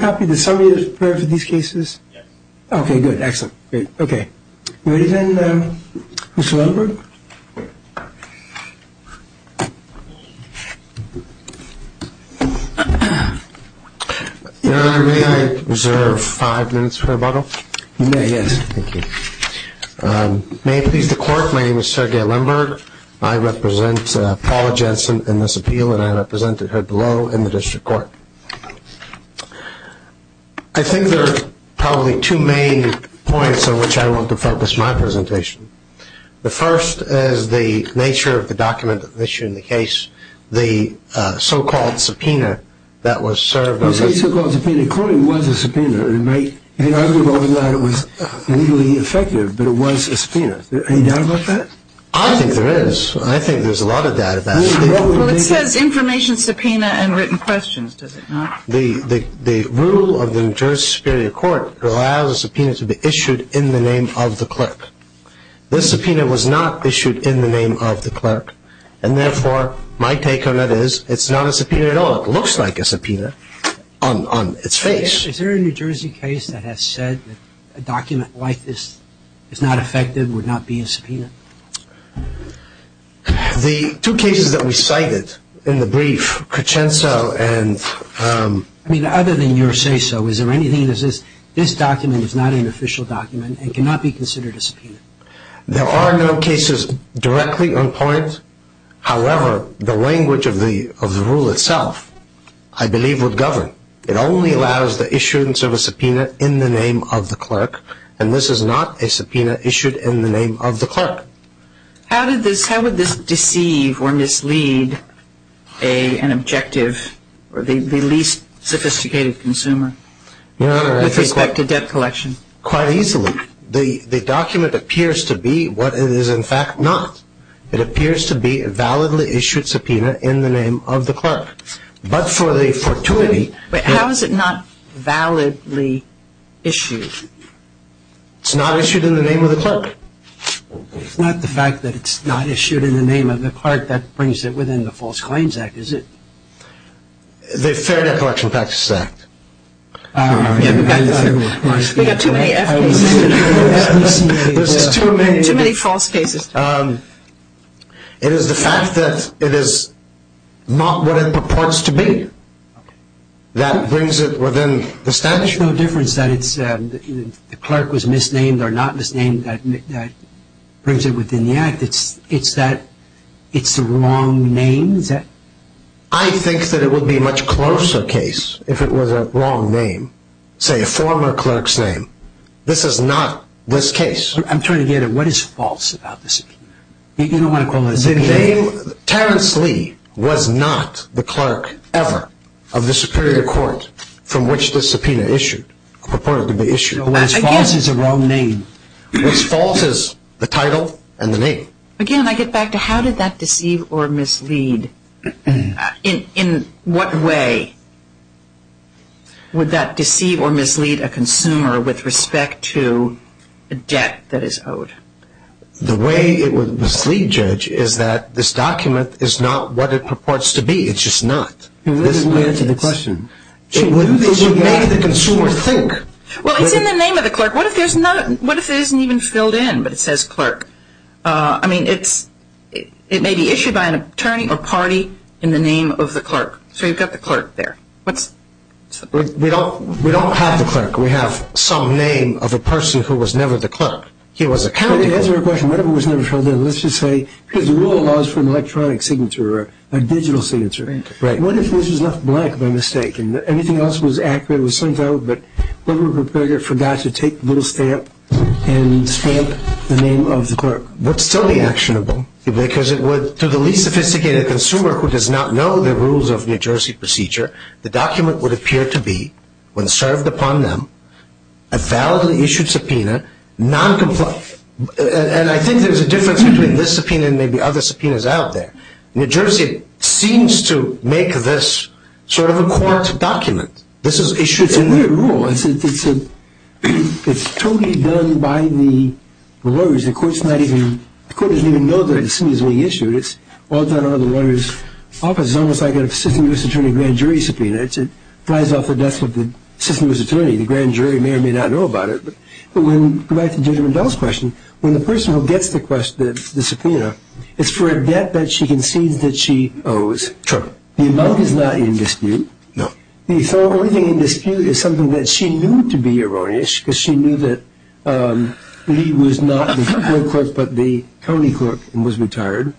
Okay, good, excellent. Okay. Ready then, Mr. Lemberg? Your Honor, may I reserve five minutes for rebuttal? You may, yes. Thank you. May it please the Court, my name is Sergei Lemberg. I represent Paula Jensen in this appeal and I represented her below in the District Court. I think there are probably two main points on which I want to focus my presentation. The first is the nature of the document that's issued in the case, the so-called subpoena that was served. You say so-called subpoena. It clearly was a subpoena. It may be arguable that it was legally effective, but it was a subpoena. Are you doubt about that? I think there is. I think there's a lot of doubt about it. Well, it says information subpoena and written questions, does it not? The rule of the New Jersey Superior Court allows a subpoena to be issued in the name of the clerk. This subpoena was not issued in the name of the clerk, and therefore my take on it is it's not a subpoena at all. It looks like a subpoena on its face. Is there a New Jersey case that has said that a document like this is not effective, would not be a subpoena? The two cases that we cited in the brief, Crescenzo and... I mean, other than your say-so, is there anything that says this document is not an official document and cannot be considered a subpoena? There are no cases directly on point. However, the language of the rule itself, I believe, would govern. It only allows the issuance of a subpoena in the name of the clerk, and this is not a subpoena issued in the name of the clerk. How would this deceive or mislead an objective or the least sophisticated consumer with respect to debt collection? Quite easily. The document appears to be what it is in fact not. It appears to be a validly issued subpoena in the name of the clerk. But for the fortuity... But how is it not validly issued? It's not issued in the name of the clerk. It's not the fact that it's not issued in the name of the clerk that brings it within the False Claims Act, is it? The Fair Debt Collection Practices Act. We've got too many F cases. There's just too many. Too many false cases. It is the fact that it is not what it purports to be that brings it within the statute. There's no difference that the clerk was misnamed or not misnamed that brings it within the Act? It's that it's the wrong name? I think that it would be a much closer case if it was a wrong name, say a former clerk's name. This is not this case. I'm trying to get at what is false about the subpoena. You don't want to call it a subpoena? Terrence Lee was not the clerk ever of the Superior Court from which the subpoena issued, purported to be issued. What's false is a wrong name. What's false is the title and the name. Again, I get back to how did that deceive or mislead? In what way would that deceive or mislead a consumer with respect to a debt that is owed? The way it would mislead, Judge, is that this document is not what it purports to be. It's just not. This leads to the question. It would make the consumer think. Well, it's in the name of the clerk. What if it isn't even filled in but it says clerk? I mean, it may be issued by an attorney or party in the name of the clerk. So you've got the clerk there. We don't have the clerk. We have some name of a person who was never the clerk. He was a county clerk. To answer your question, what if it was never filled in? Let's just say because the rule allows for an electronic signature or a digital signature. Right. What if this was left blank by mistake and everything else was accurate, was sent out, but whoever prepared it forgot to take the little stamp and stamp the name of the clerk? It would still be actionable because it would, to the least sophisticated consumer who does not know the rules of New Jersey procedure, the document would appear to be, when served upon them, a validly issued subpoena, noncompliant. And I think there's a difference between this subpoena and maybe other subpoenas out there. New Jersey seems to make this sort of a court document. This is issued in there. It's a weird rule. It's totally done by the lawyers. The court doesn't even know that a subpoena is being issued. It's all done under the lawyer's office. It's almost like a system-use attorney grand jury subpoena. It flies off the desk of the system-use attorney. The grand jury may or may not know about it. But when we go back to Judge McDowell's question, when the person who gets the subpoena, it's for a debt that she concedes that she owes. True. The amount is not in dispute. No. The only thing in dispute is something that she knew to be erroneous because she knew that Lee was not the court but the county court and was retired.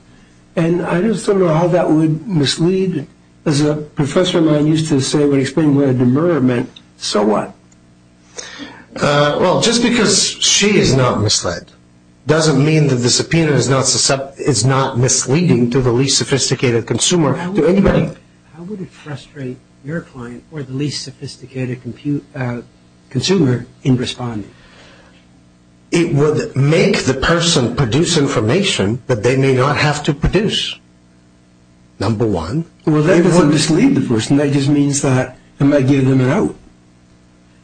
And I just don't know how that would mislead. As a professor of mine used to say when explaining what a demurrer meant, so what? Well, just because she is not misled doesn't mean that the subpoena is not misleading to the least sophisticated consumer. How would it frustrate your client or the least sophisticated consumer in responding? It would make the person produce information that they may not have to produce, number one. It wouldn't mislead the person. It just means that it might give them a note.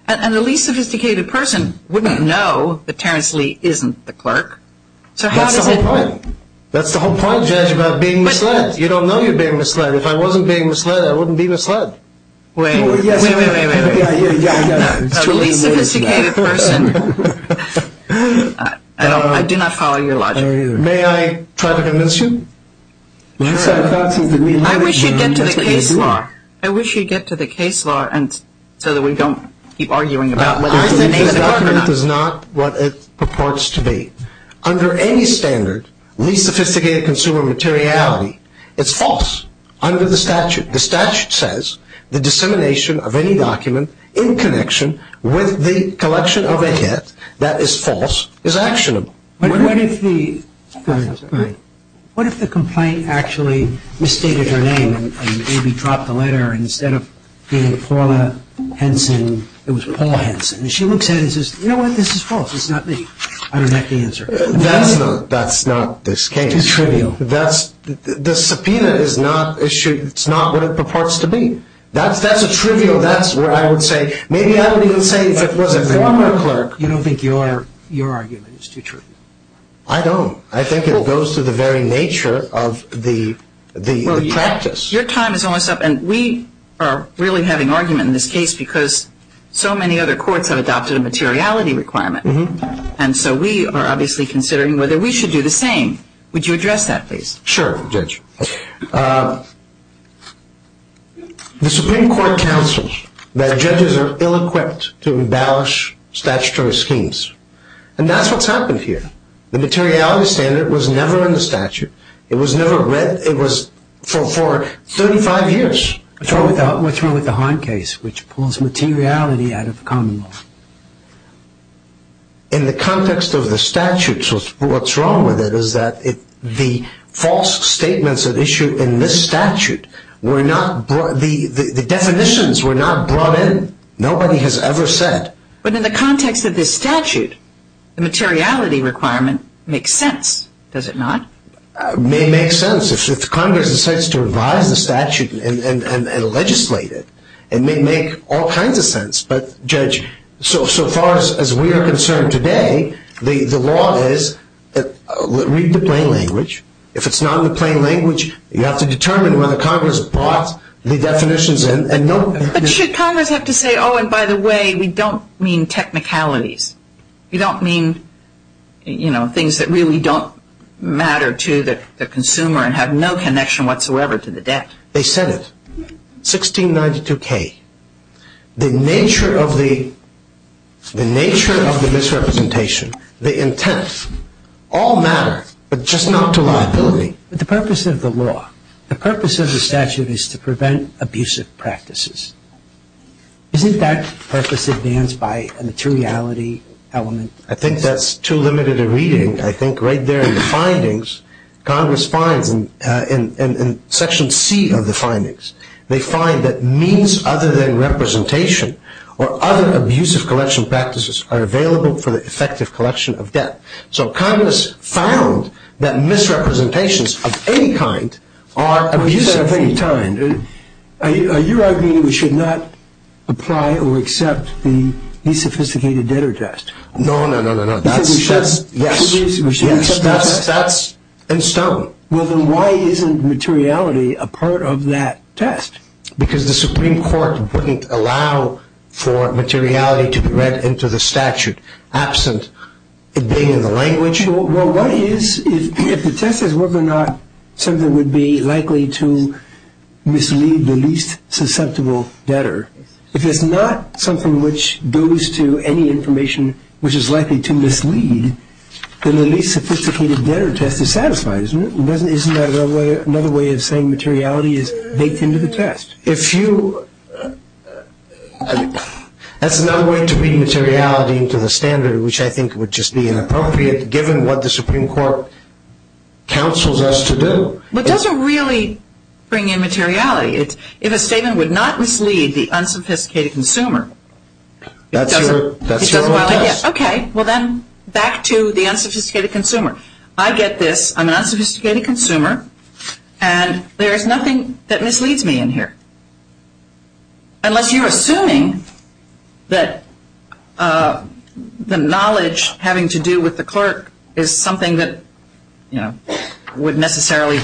And the least sophisticated person wouldn't know that Terrence Lee isn't the clerk. That's the whole point. That's the whole point, Judge, about being misled. You don't know you're being misled. If I wasn't being misled, I wouldn't be misled. Wait, wait, wait, wait. The least sophisticated person, I do not follow your logic. May I try to convince you? I wish you'd get to the case law so that we don't keep arguing about whether I'm the name of the clerk or not. This document is not what it purports to be. Under any standard, least sophisticated consumer materiality, it's false under the statute. The statute says the dissemination of any document in connection with the collection of a hit that is false is actionable. What if the complaint actually misstated her name and maybe dropped the letter instead of being Paula Henson, it was Paula Henson. And she looks at it and says, you know what, this is false. I don't have the answer. That's not this case. Too trivial. The subpoena is not what it purports to be. That's a trivial, that's where I would say, maybe I would even say if it was a former clerk. You don't think your argument is too trivial? I don't. I think it goes to the very nature of the practice. Your time is almost up. And we are really having argument in this case because so many other courts have adopted a materiality requirement. And so we are obviously considering whether we should do the same. Would you address that, please? Sure, Judge. The Supreme Court counsels that judges are ill-equipped to embellish statutory schemes. And that's what's happened here. The materiality standard was never in the statute. It was never read. It was for 35 years. What's wrong with the Hahn case, which pulls materiality out of common law? In the context of the statute, what's wrong with it is that the false statements that are issued in this statute, the definitions were not brought in. Nobody has ever said. But in the context of this statute, the materiality requirement makes sense, does it not? It may make sense if Congress decides to revise the statute and legislate it. It may make all kinds of sense. But, Judge, so far as we are concerned today, the law is read the plain language. If it's not in the plain language, you have to determine whether Congress brought the definitions in. But should Congress have to say, oh, and by the way, we don't mean technicalities. We don't mean, you know, things that really don't matter to the consumer and have no connection whatsoever to the debt. They said it, 1692K. The nature of the misrepresentation, the intent, all matter, but just not to liability. The purpose of the law, the purpose of the statute is to prevent abusive practices. Isn't that purpose advanced by a materiality element? I think that's too limited a reading. I think right there in the findings, Congress finds in Section C of the findings, they find that means other than representation or other abusive collection practices are available for the effective collection of debt. So Congress found that misrepresentations of any kind are abusive. At the same time, are you arguing that we should not apply or accept the desophisticated debtor test? No, no, no, no, no. That's in stone. Well, then why isn't materiality a part of that test? Because the Supreme Court wouldn't allow for materiality to be read into the statute absent it being in the language. Well, why is, if the test is whether or not something would be likely to mislead the least susceptible debtor, if it's not something which goes to any information which is likely to mislead, then the least sophisticated debtor test is satisfied, isn't it? Isn't that another way of saying materiality is baked into the test? If you, that's another way to read materiality into the standard, which I think would just be inappropriate given what the Supreme Court counsels us to do. It doesn't really bring in materiality. If a statement would not mislead the unsophisticated consumer, it doesn't. That's your test. Okay. Well, then back to the unsophisticated consumer. I get this. I'm an unsophisticated consumer, and there is nothing that misleads me in here, unless you're assuming that the knowledge having to do with the clerk is something that, you know, would necessarily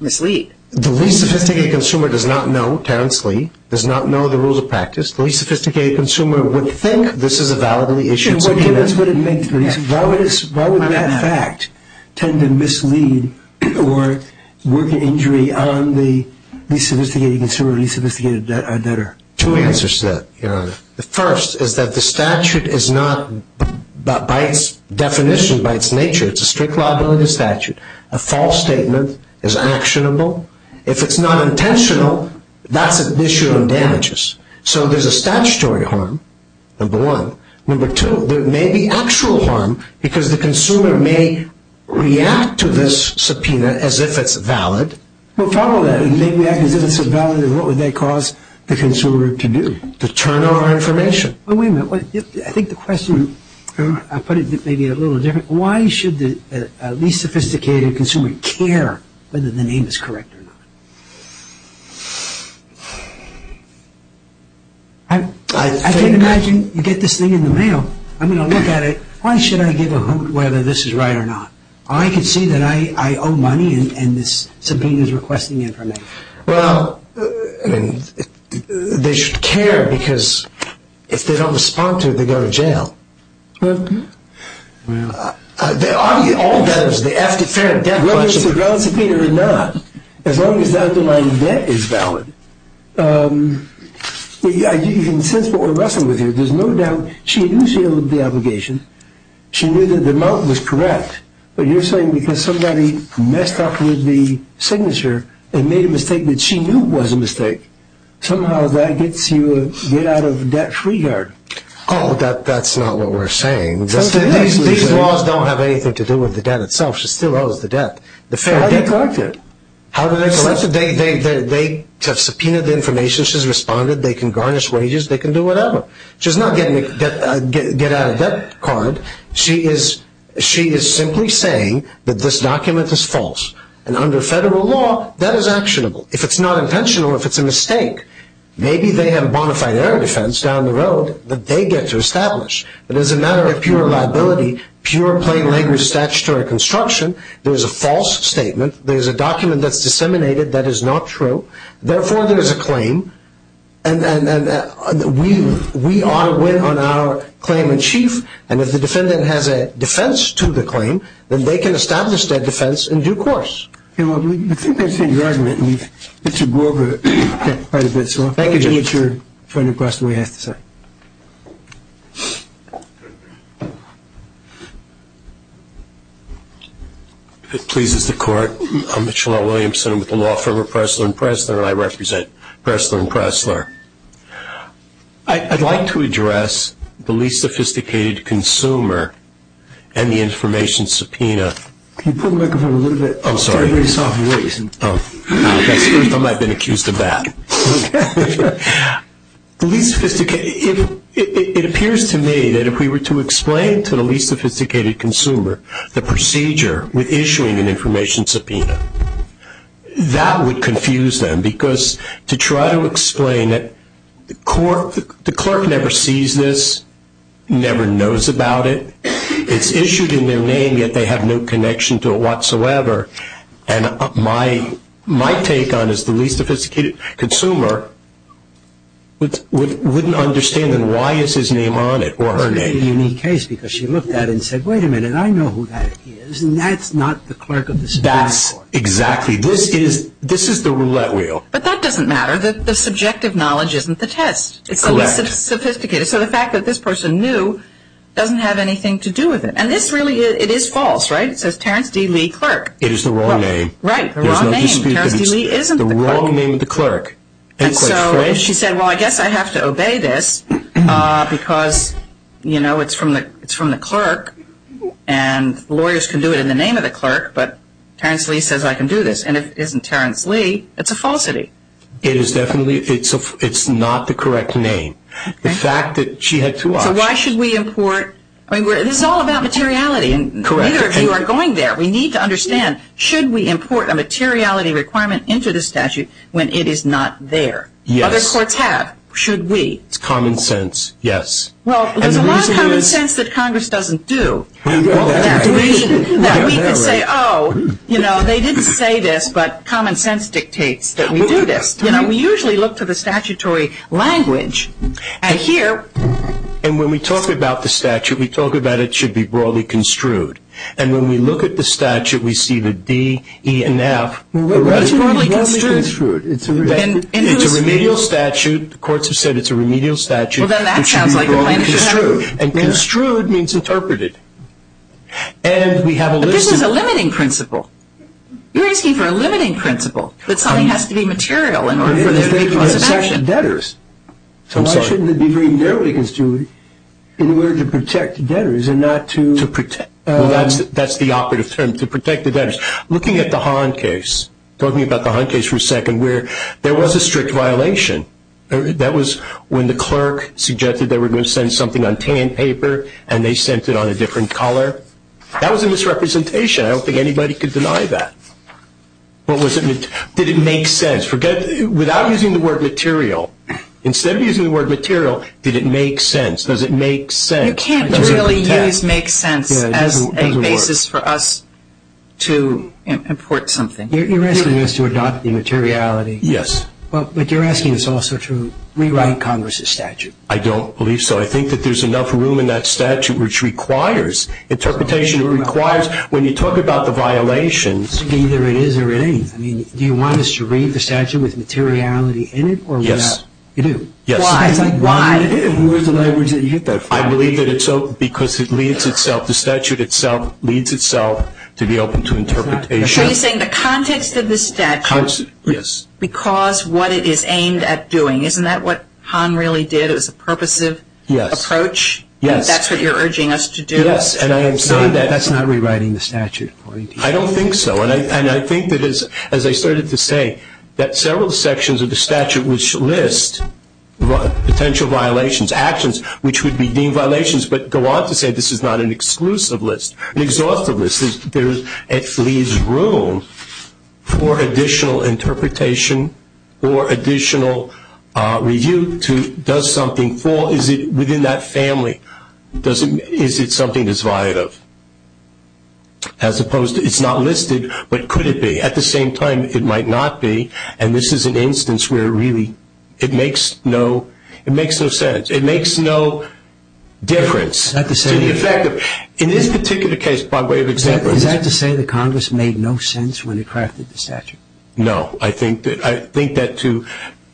mislead. The least sophisticated consumer does not know, Terrence Lee, does not know the rules of practice. The least sophisticated consumer would think this is a validly issued statement. Why would that fact tend to mislead or work an injury on the least sophisticated consumer or least sophisticated debtor? Two answers to that, Your Honor. The first is that the statute is not, by its definition, by its nature, it's a strict lawability statute. A false statement is actionable. If it's not intentional, that's an issue of damages. So there's a statutory harm, number one. Number two, there may be actual harm because the consumer may react to this subpoena as if it's valid. Well, follow that. If they react as if it's valid, then what would they cause the consumer to do? To turn over information. Wait a minute. I think the question, I'll put it maybe a little different. Why should the least sophisticated consumer care whether the name is correct or not? I can imagine you get this thing in the mail. I'm going to look at it. Why should I give a hoot whether this is right or not? I can see that I owe money and this subpoena is requesting information. Well, I mean, they should care because if they don't respond to it, they go to jail. Well. Well. All debtors, the after fare and debt collection. Whether it's a valid subpoena or not, as long as the underlying debt is valid, you can sense what we're wrestling with here. There's no doubt she knew she owed the obligation. She knew that the amount was correct. But you're saying because somebody messed up with the signature and made a mistake that she knew was a mistake, somehow that gets you to get out of debt free hard. Oh, that's not what we're saying. These laws don't have anything to do with the debt itself. She still owes the debt. How do they collect it? How do they collect it? They subpoena the information. She's responded. They can garnish wages. They can do whatever. She's not getting a get out of debt card. She is simply saying that this document is false. And under federal law, that is actionable. If it's not intentional, if it's a mistake, maybe they have bonafide error defense down the road that they get to establish. But as a matter of pure liability, pure plain-labor statutory construction, there's a false statement. There's a document that's disseminated that is not true. Therefore, there is a claim. And we ought to win on our claim in chief. And if the defendant has a defense to the claim, then they can establish that defense in due course. Okay, well, I think I've seen your argument, and we've got to go over it quite a bit. Thank you, Judge. If it pleases the Court, I'm Mitchell L. Williamson. I'm with the law firm of Pressler & Pressler, and I represent Pressler & Pressler. I'd like to address the least sophisticated consumer and the information subpoena. Can you pull the microphone a little bit? I'm sorry. That's the first time I've been accused of that. It appears to me that if we were to explain to the least sophisticated consumer the procedure with issuing an information subpoena, that would confuse them because to try to explain it, the clerk never sees this, never knows about it. It's issued in their name, yet they have no connection to it whatsoever. And my take on it is the least sophisticated consumer wouldn't understand why is his name on it or her name. It's a unique case because she looked at it and said, wait a minute, I know who that is, and that's not the clerk of the Supreme Court. That's exactly. This is the roulette wheel. But that doesn't matter. It's the least sophisticated. So the fact that this person knew doesn't have anything to do with it. And this really, it is false, right? It says Terrence D. Lee, clerk. It is the wrong name. Right. The wrong name. Terrence D. Lee isn't the clerk. The wrong name of the clerk. And so she said, well, I guess I have to obey this because, you know, it's from the clerk, and lawyers can do it in the name of the clerk, but Terrence Lee says I can do this. And if it isn't Terrence Lee, it's a falsity. It is definitely, it's not the correct name. The fact that she had two options. So why should we import? I mean, this is all about materiality. Correct. And neither of you are going there. We need to understand, should we import a materiality requirement into the statute when it is not there? Yes. Other courts have. Should we? It's common sense, yes. Well, there's a lot of common sense that Congress doesn't do. We know that. That we can say, oh, you know, they didn't say this, but common sense dictates that we do this. You know, we usually look to the statutory language. And here. And when we talk about the statute, we talk about it should be broadly construed. And when we look at the statute, we see the D, E, and F. It's broadly construed. It's a remedial statute. The courts have said it's a remedial statute. Well, then that sounds like the plan should have. And construed means interpreted. And we have a list. But this is a limiting principle. You're asking for a limiting principle. That something has to be material in order for there to be a prosecution. It's debtors. I'm sorry. Why shouldn't it be very narrowly construed in order to protect debtors and not to... To protect. Well, that's the operative term, to protect the debtors. Looking at the Hahn case, talking about the Hahn case for a second, where there was a strict violation. That was when the clerk suggested they were going to send something on tan paper, and they sent it on a different color. That was a misrepresentation. I don't think anybody could deny that. Did it make sense? Without using the word material, instead of using the word material, did it make sense? Does it make sense? You can't really use make sense as a basis for us to import something. You're asking us to adopt the materiality. Yes. But you're asking us also to rewrite Congress's statute. I don't believe so. I think that there's enough room in that statute which requires interpretation. It requires, when you talk about the violations... Either it is or it ain't. Do you want us to read the statute with materiality in it or without? Yes. You do? Yes. Why? Where's the language that you get that from? I believe that it's open because it leads itself, the statute itself leads itself to be open to interpretation. So you're saying the context of the statute... Yes. Because what it is aimed at doing. Isn't that what Hahn really did? It was a purposive approach? Yes. That's what you're urging us to do? Yes. And I am saying that... That's not rewriting the statute. I don't think so. And I think that, as I started to say, that several sections of the statute which list potential violations, actions which would be deemed violations, but go on to say this is not an exclusive list, an exhaustive list. It leaves room for additional interpretation or additional review to do something for... As opposed to it's not listed, but could it be? At the same time, it might not be, and this is an instance where really it makes no sense. It makes no difference to the effect of... Is that to say... In this particular case, by way of example... Is that to say that Congress made no sense when it crafted the statute? No. I think that to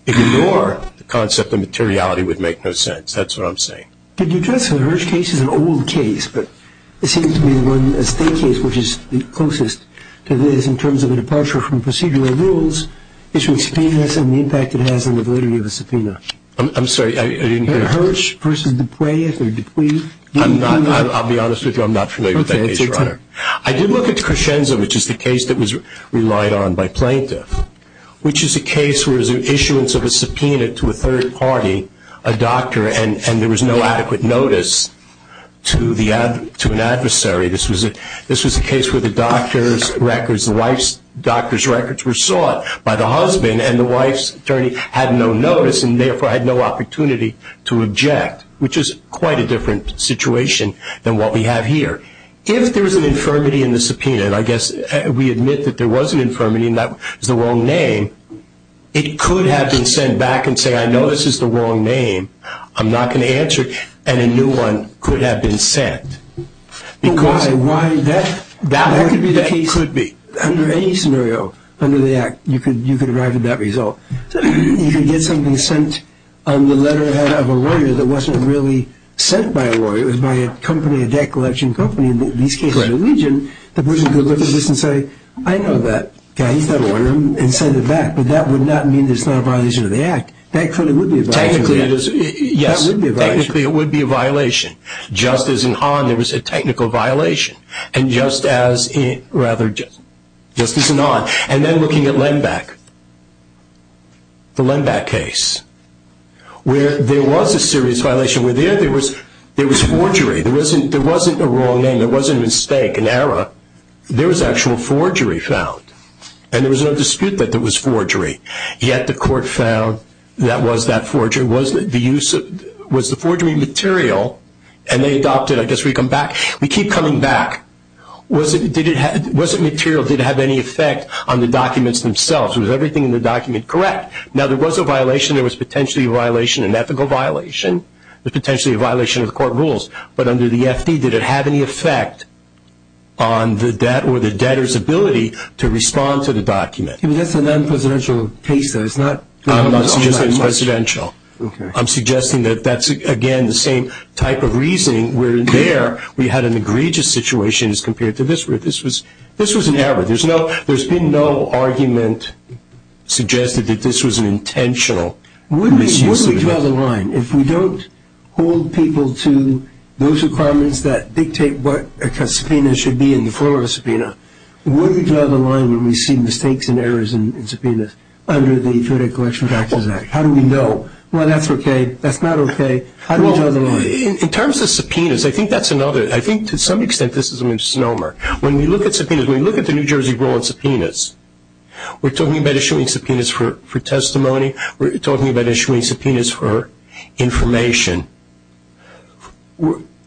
ignore the concept of materiality would make no sense. That's what I'm saying. Could you address the Hirsch case? It's an old case, but it seems to be one, a state case, which is the closest to this in terms of a departure from procedural rules. It's from experience and the impact it has on the validity of a subpoena. I'm sorry. I didn't hear... Hirsch versus DuPuis if they're DuPuis. I'm not... I'll be honest with you. I'm not familiar with that case, Your Honor. Okay. I did look at Crescenza, which is the case that was relied on by plaintiff, which is a case where there was an issuance of a subpoena to a third party, a doctor, and there was no adequate notice to an adversary. This was a case where the doctor's records, the wife's doctor's records were sought by the husband, and the wife's attorney had no notice and therefore had no opportunity to object, which is quite a different situation than what we have here. If there was an infirmity in the subpoena, and I guess we admit that there was an infirmity, and that was the wrong name, it could have been sent back and say, I know this is the wrong name, I'm not going to answer it, and a new one could have been sent. Why? That could be the case. Under any scenario, under the Act, you could arrive at that result. You could get something sent on the letterhead of a lawyer that wasn't really sent by a lawyer. It was by a company, a debt collection company. In these cases in the region, the person could look at this and say, I know that guy, he's got to order him and send it back, but that would not mean that it's not a violation of the Act. That clearly would be a violation. Yes, technically it would be a violation. Just as in Hahn, there was a technical violation, and just as in Hahn. And then looking at Lenbach, the Lenbach case, where there was a serious violation. There was forgery. There wasn't a wrong name, there wasn't a mistake, an error. There was actual forgery found, and there was no dispute that there was forgery. Yet the court found that was that forgery. Was the forgery material? And they adopted, I guess we come back, we keep coming back. Was it material? Did it have any effect on the documents themselves? Was everything in the document correct? Now, there was a violation. There was potentially a violation, an ethical violation. There was potentially a violation of the court rules. But under the FD, did it have any effect on the debt or the debtor's ability to respond to the document? That's a non-presidential case, though. I'm not suggesting it's presidential. I'm suggesting that that's, again, the same type of reasoning where there we had an egregious situation as compared to this where this was an error. There's been no argument suggested that this was an intentional misuse of the document. Would we draw the line if we don't hold people to those requirements that dictate what a subpoena should be in the form of a subpoena? Would we draw the line when we see mistakes and errors in subpoenas under the Federal Election Practices Act? How do we know, well, that's okay, that's not okay? How do we draw the line? In terms of subpoenas, I think that's another. I think to some extent this is a misnomer. When we look at subpoenas, when we look at the New Jersey rule on subpoenas, we're talking about issuing subpoenas for testimony. We're talking about issuing subpoenas for information.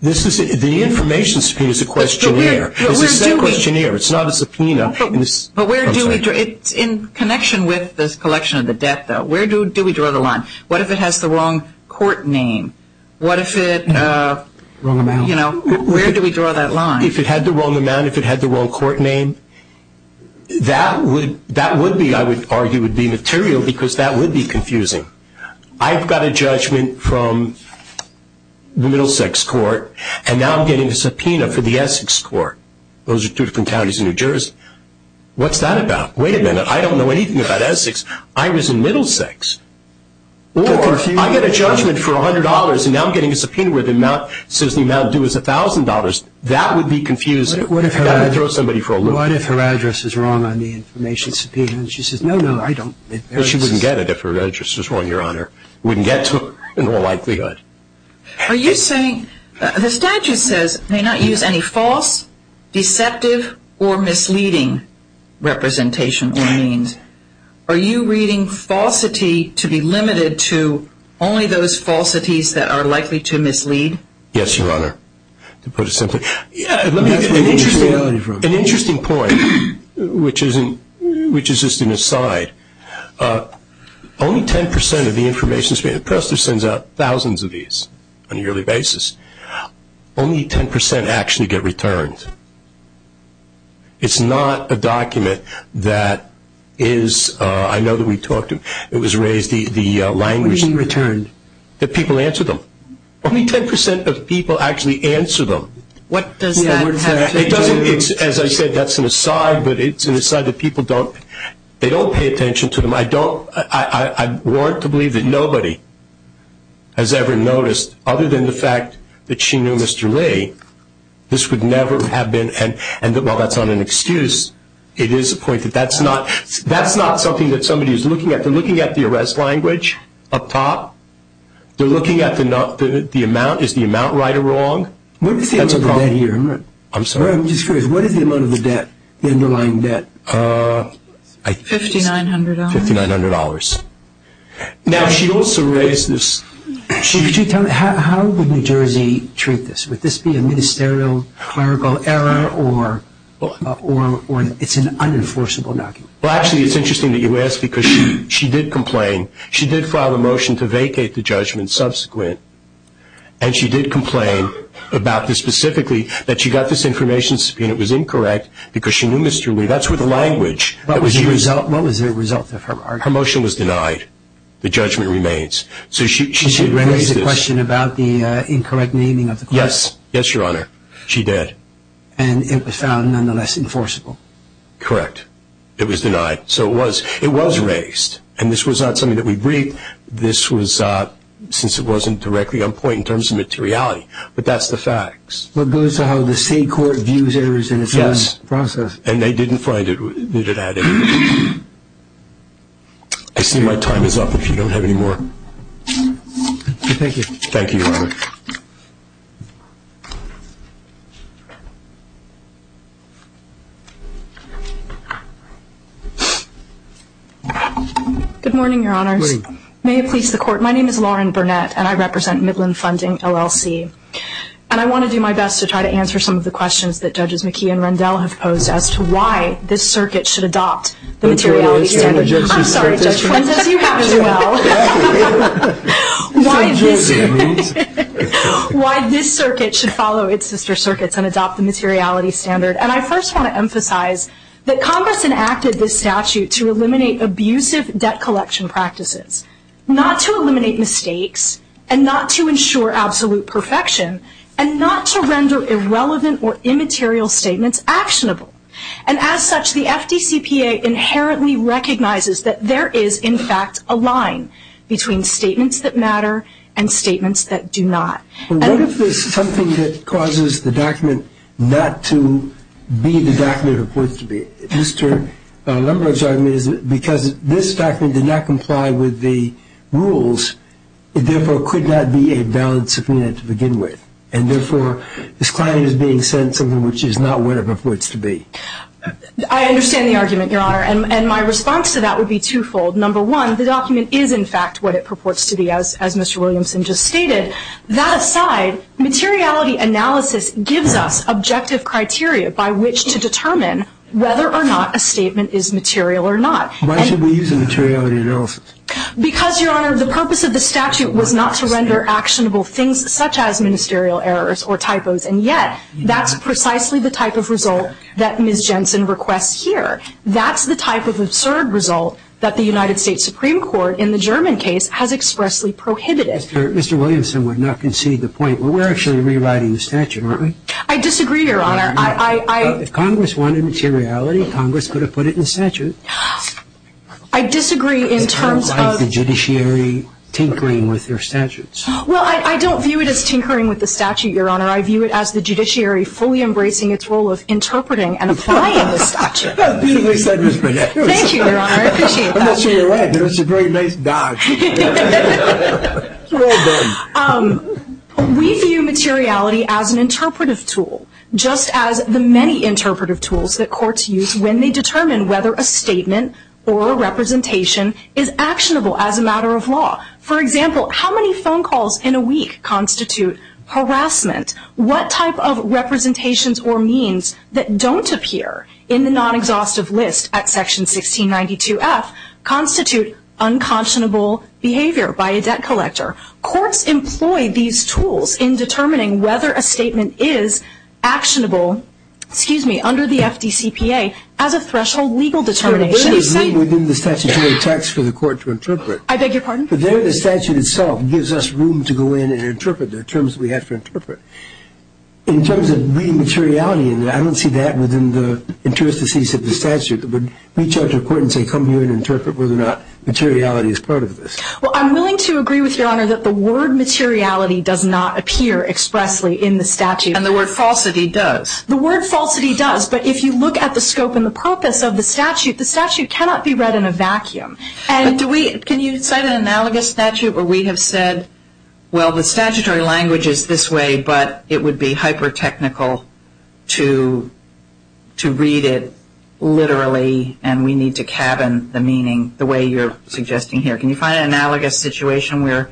The information subpoena is a questionnaire. It's a sub-questionnaire. It's not a subpoena. In connection with this collection of the debt, though, where do we draw the line? What if it has the wrong court name? What if it, you know, where do we draw that line? If it had the wrong amount, if it had the wrong court name, that would be, I would argue, would be material because that would be confusing. I've got a judgment from the Middlesex Court, and now I'm getting a subpoena for the Essex Court. Those are two different counties in New Jersey. What's that about? Wait a minute, I don't know anything about Essex. I was in Middlesex. Or I get a judgment for $100, that would be confusing. That would throw somebody for a loop. What if her address is wrong on the information subpoena? And she says, no, no, I don't. She wouldn't get it if her address was wrong, Your Honor. Wouldn't get to it in all likelihood. Are you saying, the statute says, may not use any false, deceptive, or misleading representation or means. Are you reading falsity to be limited to only those falsities that are likely to mislead? Yes, Your Honor, to put it simply. Let me ask you an interesting point, which is just an aside. Only 10% of the information, the press sends out thousands of these on a yearly basis. Only 10% actually get returned. It's not a document that is, I know that we talked, it was raised, the language. What do you mean returned? That people answer them. Only 10% of people actually answer them. What does that have to do? As I said, that's an aside. But it's an aside that people don't, they don't pay attention to them. I don't, I want to believe that nobody has ever noticed, other than the fact that she knew Mr. Lee, this would never have been, and while that's not an excuse, it is a point that that's not, that's not something that somebody is looking at. They're looking at the arrest language up top. They're looking at the amount. Is the amount right or wrong? What is the amount of the debt here? I'm sorry? I'm just curious. What is the amount of the debt, the underlying debt? $5,900. $5,900. Now, she also raised this. How would New Jersey treat this? Would this be a ministerial clerical error or it's an unenforceable document? Well, actually, it's interesting that you ask because she did complain. She did file a motion to vacate the judgment subsequent, and she did complain about this specifically, that she got this information and it was incorrect because she knew Mr. Lee. That's where the language. What was the result of her argument? Her motion was denied. The judgment remains. So she did raise this. She did raise the question about the incorrect naming of the courts? Yes. Yes, Your Honor. She did. And it was found nonetheless enforceable? Correct. It was denied. So it was. It was raised. And this was not something that we briefed. This was since it wasn't directly on point in terms of materiality. But that's the facts. Well, it goes to how the state court views errors in its own process. Yes. And they didn't find it. They didn't add anything. I see my time is up if you don't have any more. Thank you. Thank you, Your Honor. Good morning, Your Honors. Good morning. May it please the Court. My name is Lauren Burnett and I represent Midland Funding, LLC. And I want to do my best to try to answer some of the questions that Judges McKee and Rendell have posed as to why this circuit should adopt the materiality standard. I'm sorry, Judge. Why this circuit should follow its sister circuits and adopt the materiality standard. And I first want to emphasize that Congress enacted this statute to eliminate abusive debt collection practices. Not to eliminate mistakes and not to ensure absolute perfection and not to render irrelevant or immaterial statements actionable. And as such, the FDCPA inherently recognizes that there is, in fact, a line between statements that matter and statements that do not. What if there's something that causes the document not to be the document it purports to be? Mr. Lumbers, I mean, because this document did not comply with the rules, it therefore could not be a valid subpoena to begin with. And therefore, this client is being sent something which is not what it purports to be. I understand the argument, Your Honor, and my response to that would be twofold. Number one, the document is, in fact, what it purports to be, as Mr. Williamson just stated. That aside, materiality analysis gives us objective criteria by which to determine whether or not a statement is material or not. Why should we use a materiality analysis? Because, Your Honor, the purpose of the statute was not to render actionable things such as ministerial errors or typos, and yet that's precisely the type of result that Ms. Jensen requests here. That's the type of absurd result that the United States Supreme Court in the German case has expressly prohibited. Mr. Williamson would not concede the point. We're actually rewriting the statute, aren't we? I disagree, Your Honor. If Congress wanted materiality, Congress could have put it in statute. I disagree in terms of the judiciary tinkering with their statutes. Well, I don't view it as tinkering with the statute, Your Honor. I view it as the judiciary fully embracing its role of interpreting and applying the statute. Thank you, Your Honor. I appreciate that. I'm not sure you're right, but it's a very nice dodge. Well done. We view materiality as an interpretive tool, just as the many interpretive tools that courts use when they determine whether a statement or a representation is actionable as a matter of law. For example, how many phone calls in a week constitute harassment? What type of representations or means that don't appear in the non-exhaustive list at Section 1692F constitute unconscionable behavior by a debt collector? Courts employ these tools in determining whether a statement is actionable, excuse me, under the FDCPA as a threshold legal determination. There is room within the statutory text for the court to interpret. I beg your pardon? There the statute itself gives us room to go in and interpret the terms we have to interpret. In terms of reading materiality, I don't see that within the interstices of the statute. Would we judge a court and say, come here and interpret whether or not materiality is part of this? Well, I'm willing to agree with Your Honor that the word materiality does not appear expressly in the statute. And the word falsity does. The word falsity does, but if you look at the scope and the purpose of the statute, the statute cannot be read in a vacuum. Can you cite an analogous statute where we have said, well, the statutory language is this way, but it would be hyper-technical to read it literally and we need to cabin the meaning the way you're suggesting here. Can you find an analogous situation where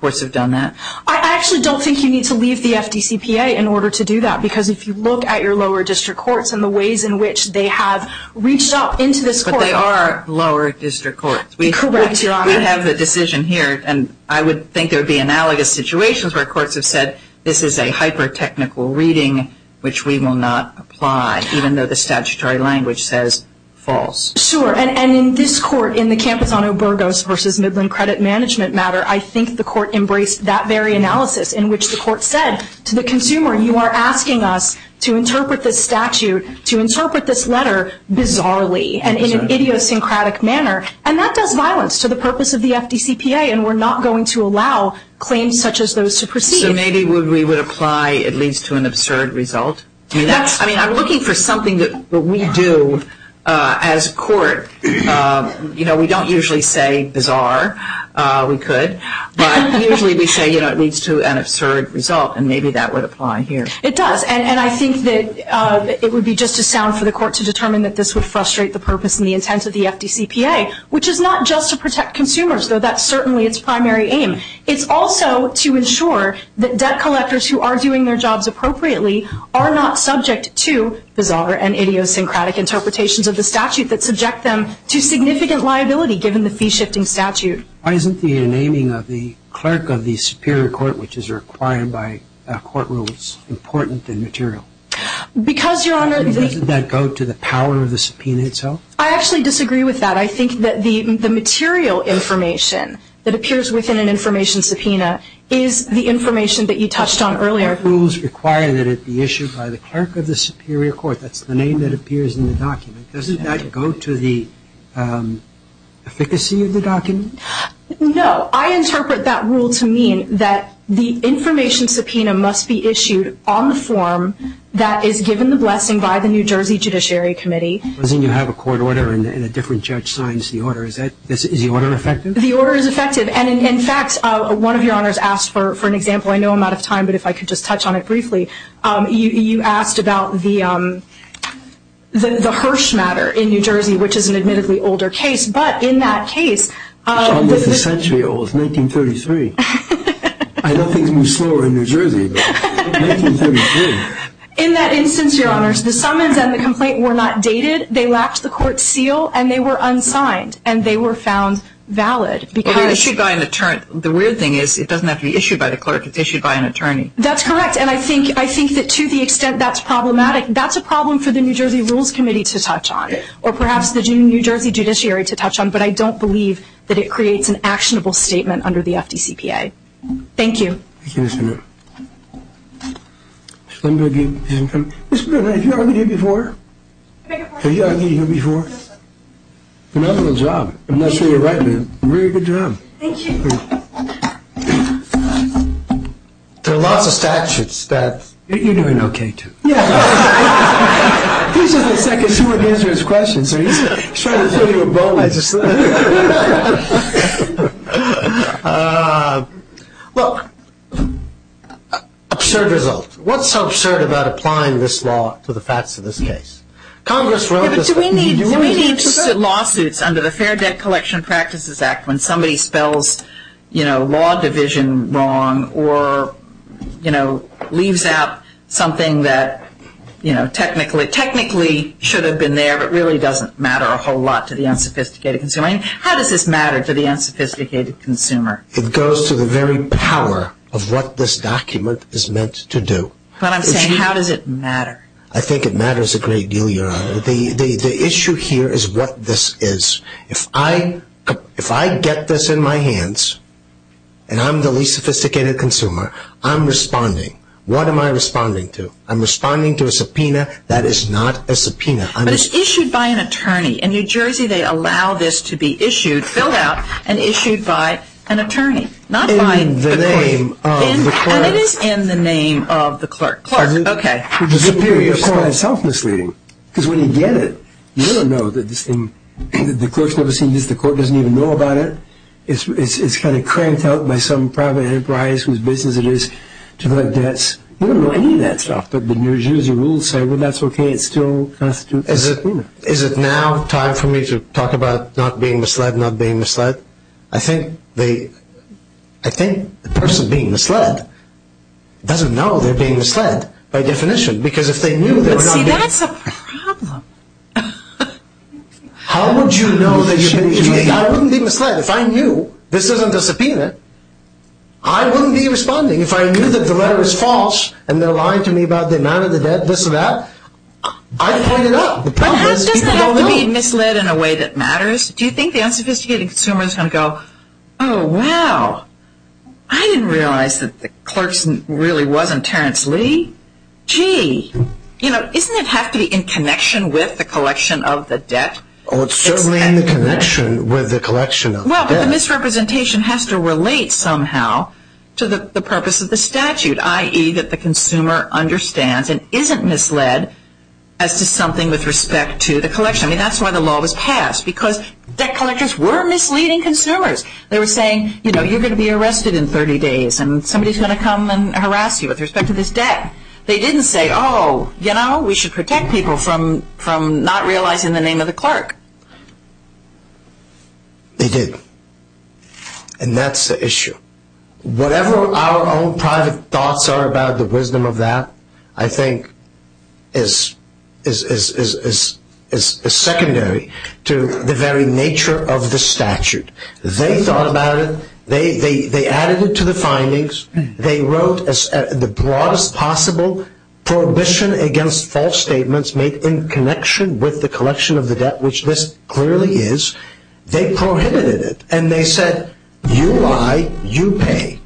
courts have done that? I actually don't think you need to leave the FDCPA in order to do that, because if you look at your lower district courts and the ways in which they have reached up into this court. But they are lower district courts. Correct, Your Honor. We have a decision here, and I would think there would be analogous situations where courts have said this is a hyper-technical reading, which we will not apply, even though the statutory language says false. Sure, and in this court, in the campus on Obergos v. Midland credit management matter, I think the court embraced that very analysis in which the court said to the consumer, you are asking us to interpret this statute, to interpret this letter bizarrely and in an idiosyncratic manner. And that does violence to the purpose of the FDCPA, and we're not going to allow claims such as those to proceed. So maybe we would apply it leads to an absurd result? I mean, I'm looking for something that we do as a court. You know, we don't usually say bizarre. We could. But usually we say it leads to an absurd result, and maybe that would apply here. It does. And I think that it would be just as sound for the court to determine that this would frustrate the purpose and the intent of the FDCPA, which is not just to protect consumers, though that's certainly its primary aim. It's also to ensure that debt collectors who are doing their jobs appropriately are not subject to bizarre and idiosyncratic interpretations of the statute that subject them to significant liability given the fee-shifting statute. Why isn't the naming of the clerk of the superior court, which is required by court rules, important and material? Because, Your Honor, the — Doesn't that go to the power of the subpoena itself? I actually disagree with that. I think that the material information that appears within an information subpoena is the information that you touched on earlier. Court rules require that it be issued by the clerk of the superior court. That's the name that appears in the document. Doesn't that go to the efficacy of the document? No. I interpret that rule to mean that the information subpoena must be issued on the form that is given the blessing by the New Jersey Judiciary Committee. Doesn't you have a court order and a different judge signs the order? Is the order effective? The order is effective. And, in fact, one of Your Honors asked for an example. I know I'm out of time, but if I could just touch on it briefly. You asked about the Hirsch matter in New Jersey, which is an admittedly older case. But in that case — It's almost a century old. It's 1933. I know things move slower in New Jersey, but 1933. In that instance, Your Honors, the summons and the complaint were not dated. They lacked the court seal, and they were unsigned, and they were found valid. They were issued by an attorney. The weird thing is it doesn't have to be issued by the clerk. It's issued by an attorney. That's correct. And I think that, to the extent that's problematic, that's a problem for the New Jersey Rules Committee to touch on, or perhaps the New Jersey Judiciary to touch on. But I don't believe that it creates an actionable statement under the FDCPA. Thank you. Thank you. Thank you. Let me go get – Have you ever been here before? Have you ever been here before? No, sir. Another little job. I'm not sure you're right, but a very good job. Thank you. There are lots of statutes that – You're doing okay, too. Yeah. This is the second steward answers questions, so he's trying to show you a bonus. Yeah, just – Well, absurd result. What's so absurd about applying this law to the facts of this case? Congress wrote this – Yeah, but do we need – Do we need to –– lawsuits under the Fair Debt Collection Practices Act when somebody spells, you know, law division wrong or, you know, leaves out something that, you know, technically – How does this matter to the unsophisticated consumer? It goes to the very power of what this document is meant to do. But I'm saying how does it matter? I think it matters a great deal, Your Honor. The issue here is what this is. If I get this in my hands and I'm the least sophisticated consumer, I'm responding. What am I responding to? I'm responding to a subpoena that is not a subpoena. But it's issued by an attorney. In New Jersey, they allow this to be issued, filled out, and issued by an attorney, not by the court. In the name of the clerk. And it is in the name of the clerk. Clerk, okay. The superior court. It's self-misleading because when you get it, you don't know that this thing – the clerk's never seen this. The court doesn't even know about it. It's kind of cranked out by some private enterprise whose business it is to collect debts. You don't know any of that stuff. But the New Jersey rules say, well, that's okay. It still constitutes a subpoena. Is it now time for me to talk about not being misled, not being misled? I think the person being misled doesn't know they're being misled by definition because if they knew they were not being – But see, that's a problem. How would you know that you're being misled? I wouldn't be misled if I knew this isn't a subpoena. I wouldn't be responding if I knew that the letter was false and they're lying to me about the amount of the debt, this or that. I'd point it out. But how does that help me be misled in a way that matters? Do you think the unsophisticated consumer is going to go, oh, wow, I didn't realize that the clerk really wasn't Terrence Lee? Gee, you know, doesn't it have to be in connection with the collection of the debt? Oh, it's certainly in connection with the collection of the debt. Well, the misrepresentation has to relate somehow to the purpose of the statute, i.e., that the consumer understands and isn't misled as to something with respect to the collection. I mean, that's why the law was passed, because debt collectors were misleading consumers. They were saying, you know, you're going to be arrested in 30 days and somebody's going to come and harass you with respect to this debt. They didn't say, oh, you know, we should protect people from not realizing the name of the clerk. They did. And that's the issue. Whatever our own private thoughts are about the wisdom of that, I think is secondary to the very nature of the statute. They thought about it. They added it to the findings. They wrote the broadest possible prohibition against false statements made in connection with the collection of the debt, which this clearly is. They prohibited it. And they said, you lie, you pay.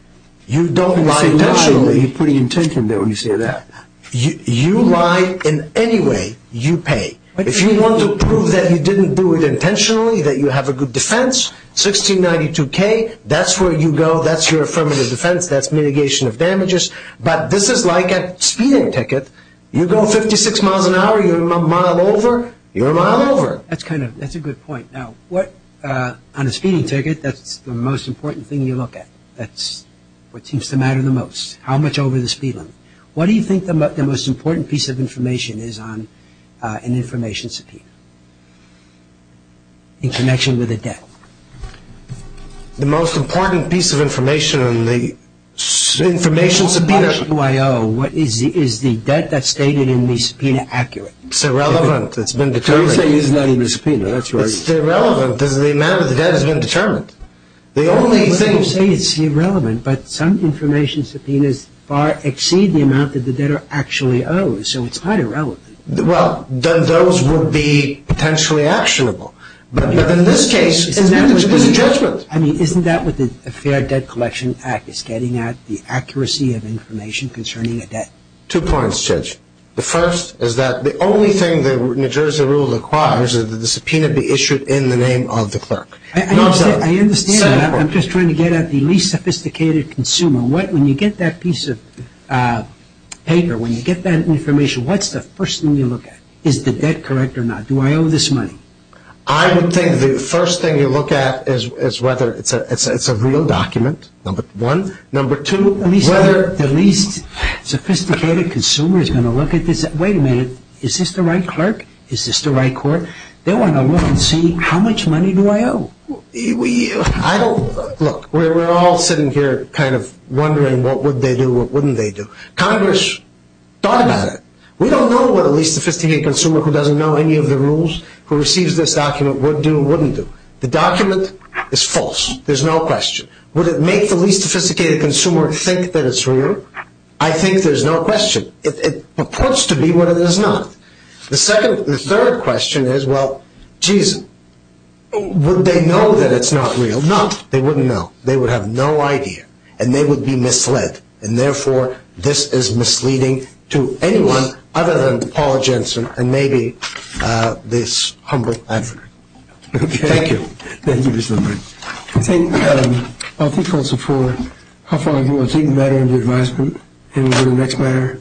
You don't lie intentionally. You're putting intention there when you say that. You lie in any way, you pay. If you want to prove that you didn't do it intentionally, that you have a good defense, 1692K, that's where you go. That's your affirmative defense. That's mitigation of damages. But this is like a speeding ticket. You go 56 miles an hour, you're a mile over, you're a mile over. That's a good point. Now, on a speeding ticket, that's the most important thing you look at. That's what seems to matter the most, how much over the speed limit. What do you think the most important piece of information is on an information subpoena in connection with a debt? The most important piece of information on the information subpoena. In the published QIO, is the debt that's stated in the subpoena accurate? It's irrelevant. It's been determined. So you say it's not in the subpoena. That's what I hear. It's irrelevant because the amount of the debt has been determined. The only thing— You say it's irrelevant, but some information subpoenas far exceed the amount that the debtor actually owes, so it's quite irrelevant. Well, those would be potentially actionable. But in this case, it's a judgment. I mean, isn't that what the Fair Debt Collection Act is getting at, the accuracy of information concerning a debt? Two points, Judge. The first is that the only thing the New Jersey rule requires is that the subpoena be issued in the name of the clerk. I understand that. I'm just trying to get at the least sophisticated consumer. When you get that piece of paper, when you get that information, what's the first thing you look at? Is the debt correct or not? Do I owe this money? I would think the first thing you look at is whether it's a real document, number one. Number two, whether— The least sophisticated consumer is going to look at this and say, wait a minute, is this the right clerk? Is this the right clerk? They want to look and see how much money do I owe? Look, we're all sitting here kind of wondering what would they do, what wouldn't they do. Congress thought about it. We don't know what a least sophisticated consumer who doesn't know any of the rules who receives this document would do or wouldn't do. The document is false. There's no question. Would it make the least sophisticated consumer think that it's real? I think there's no question. It purports to be what it is not. The third question is, well, geez, would they know that it's not real? No, they wouldn't know. They would have no idea, and they would be misled, and therefore this is misleading to anyone other than Paul Jensen and maybe this humble African. Thank you. Thank you, Mr. Lippert. I think we'll support how far you want to take the matter into advisement. And we'll go to the next matter.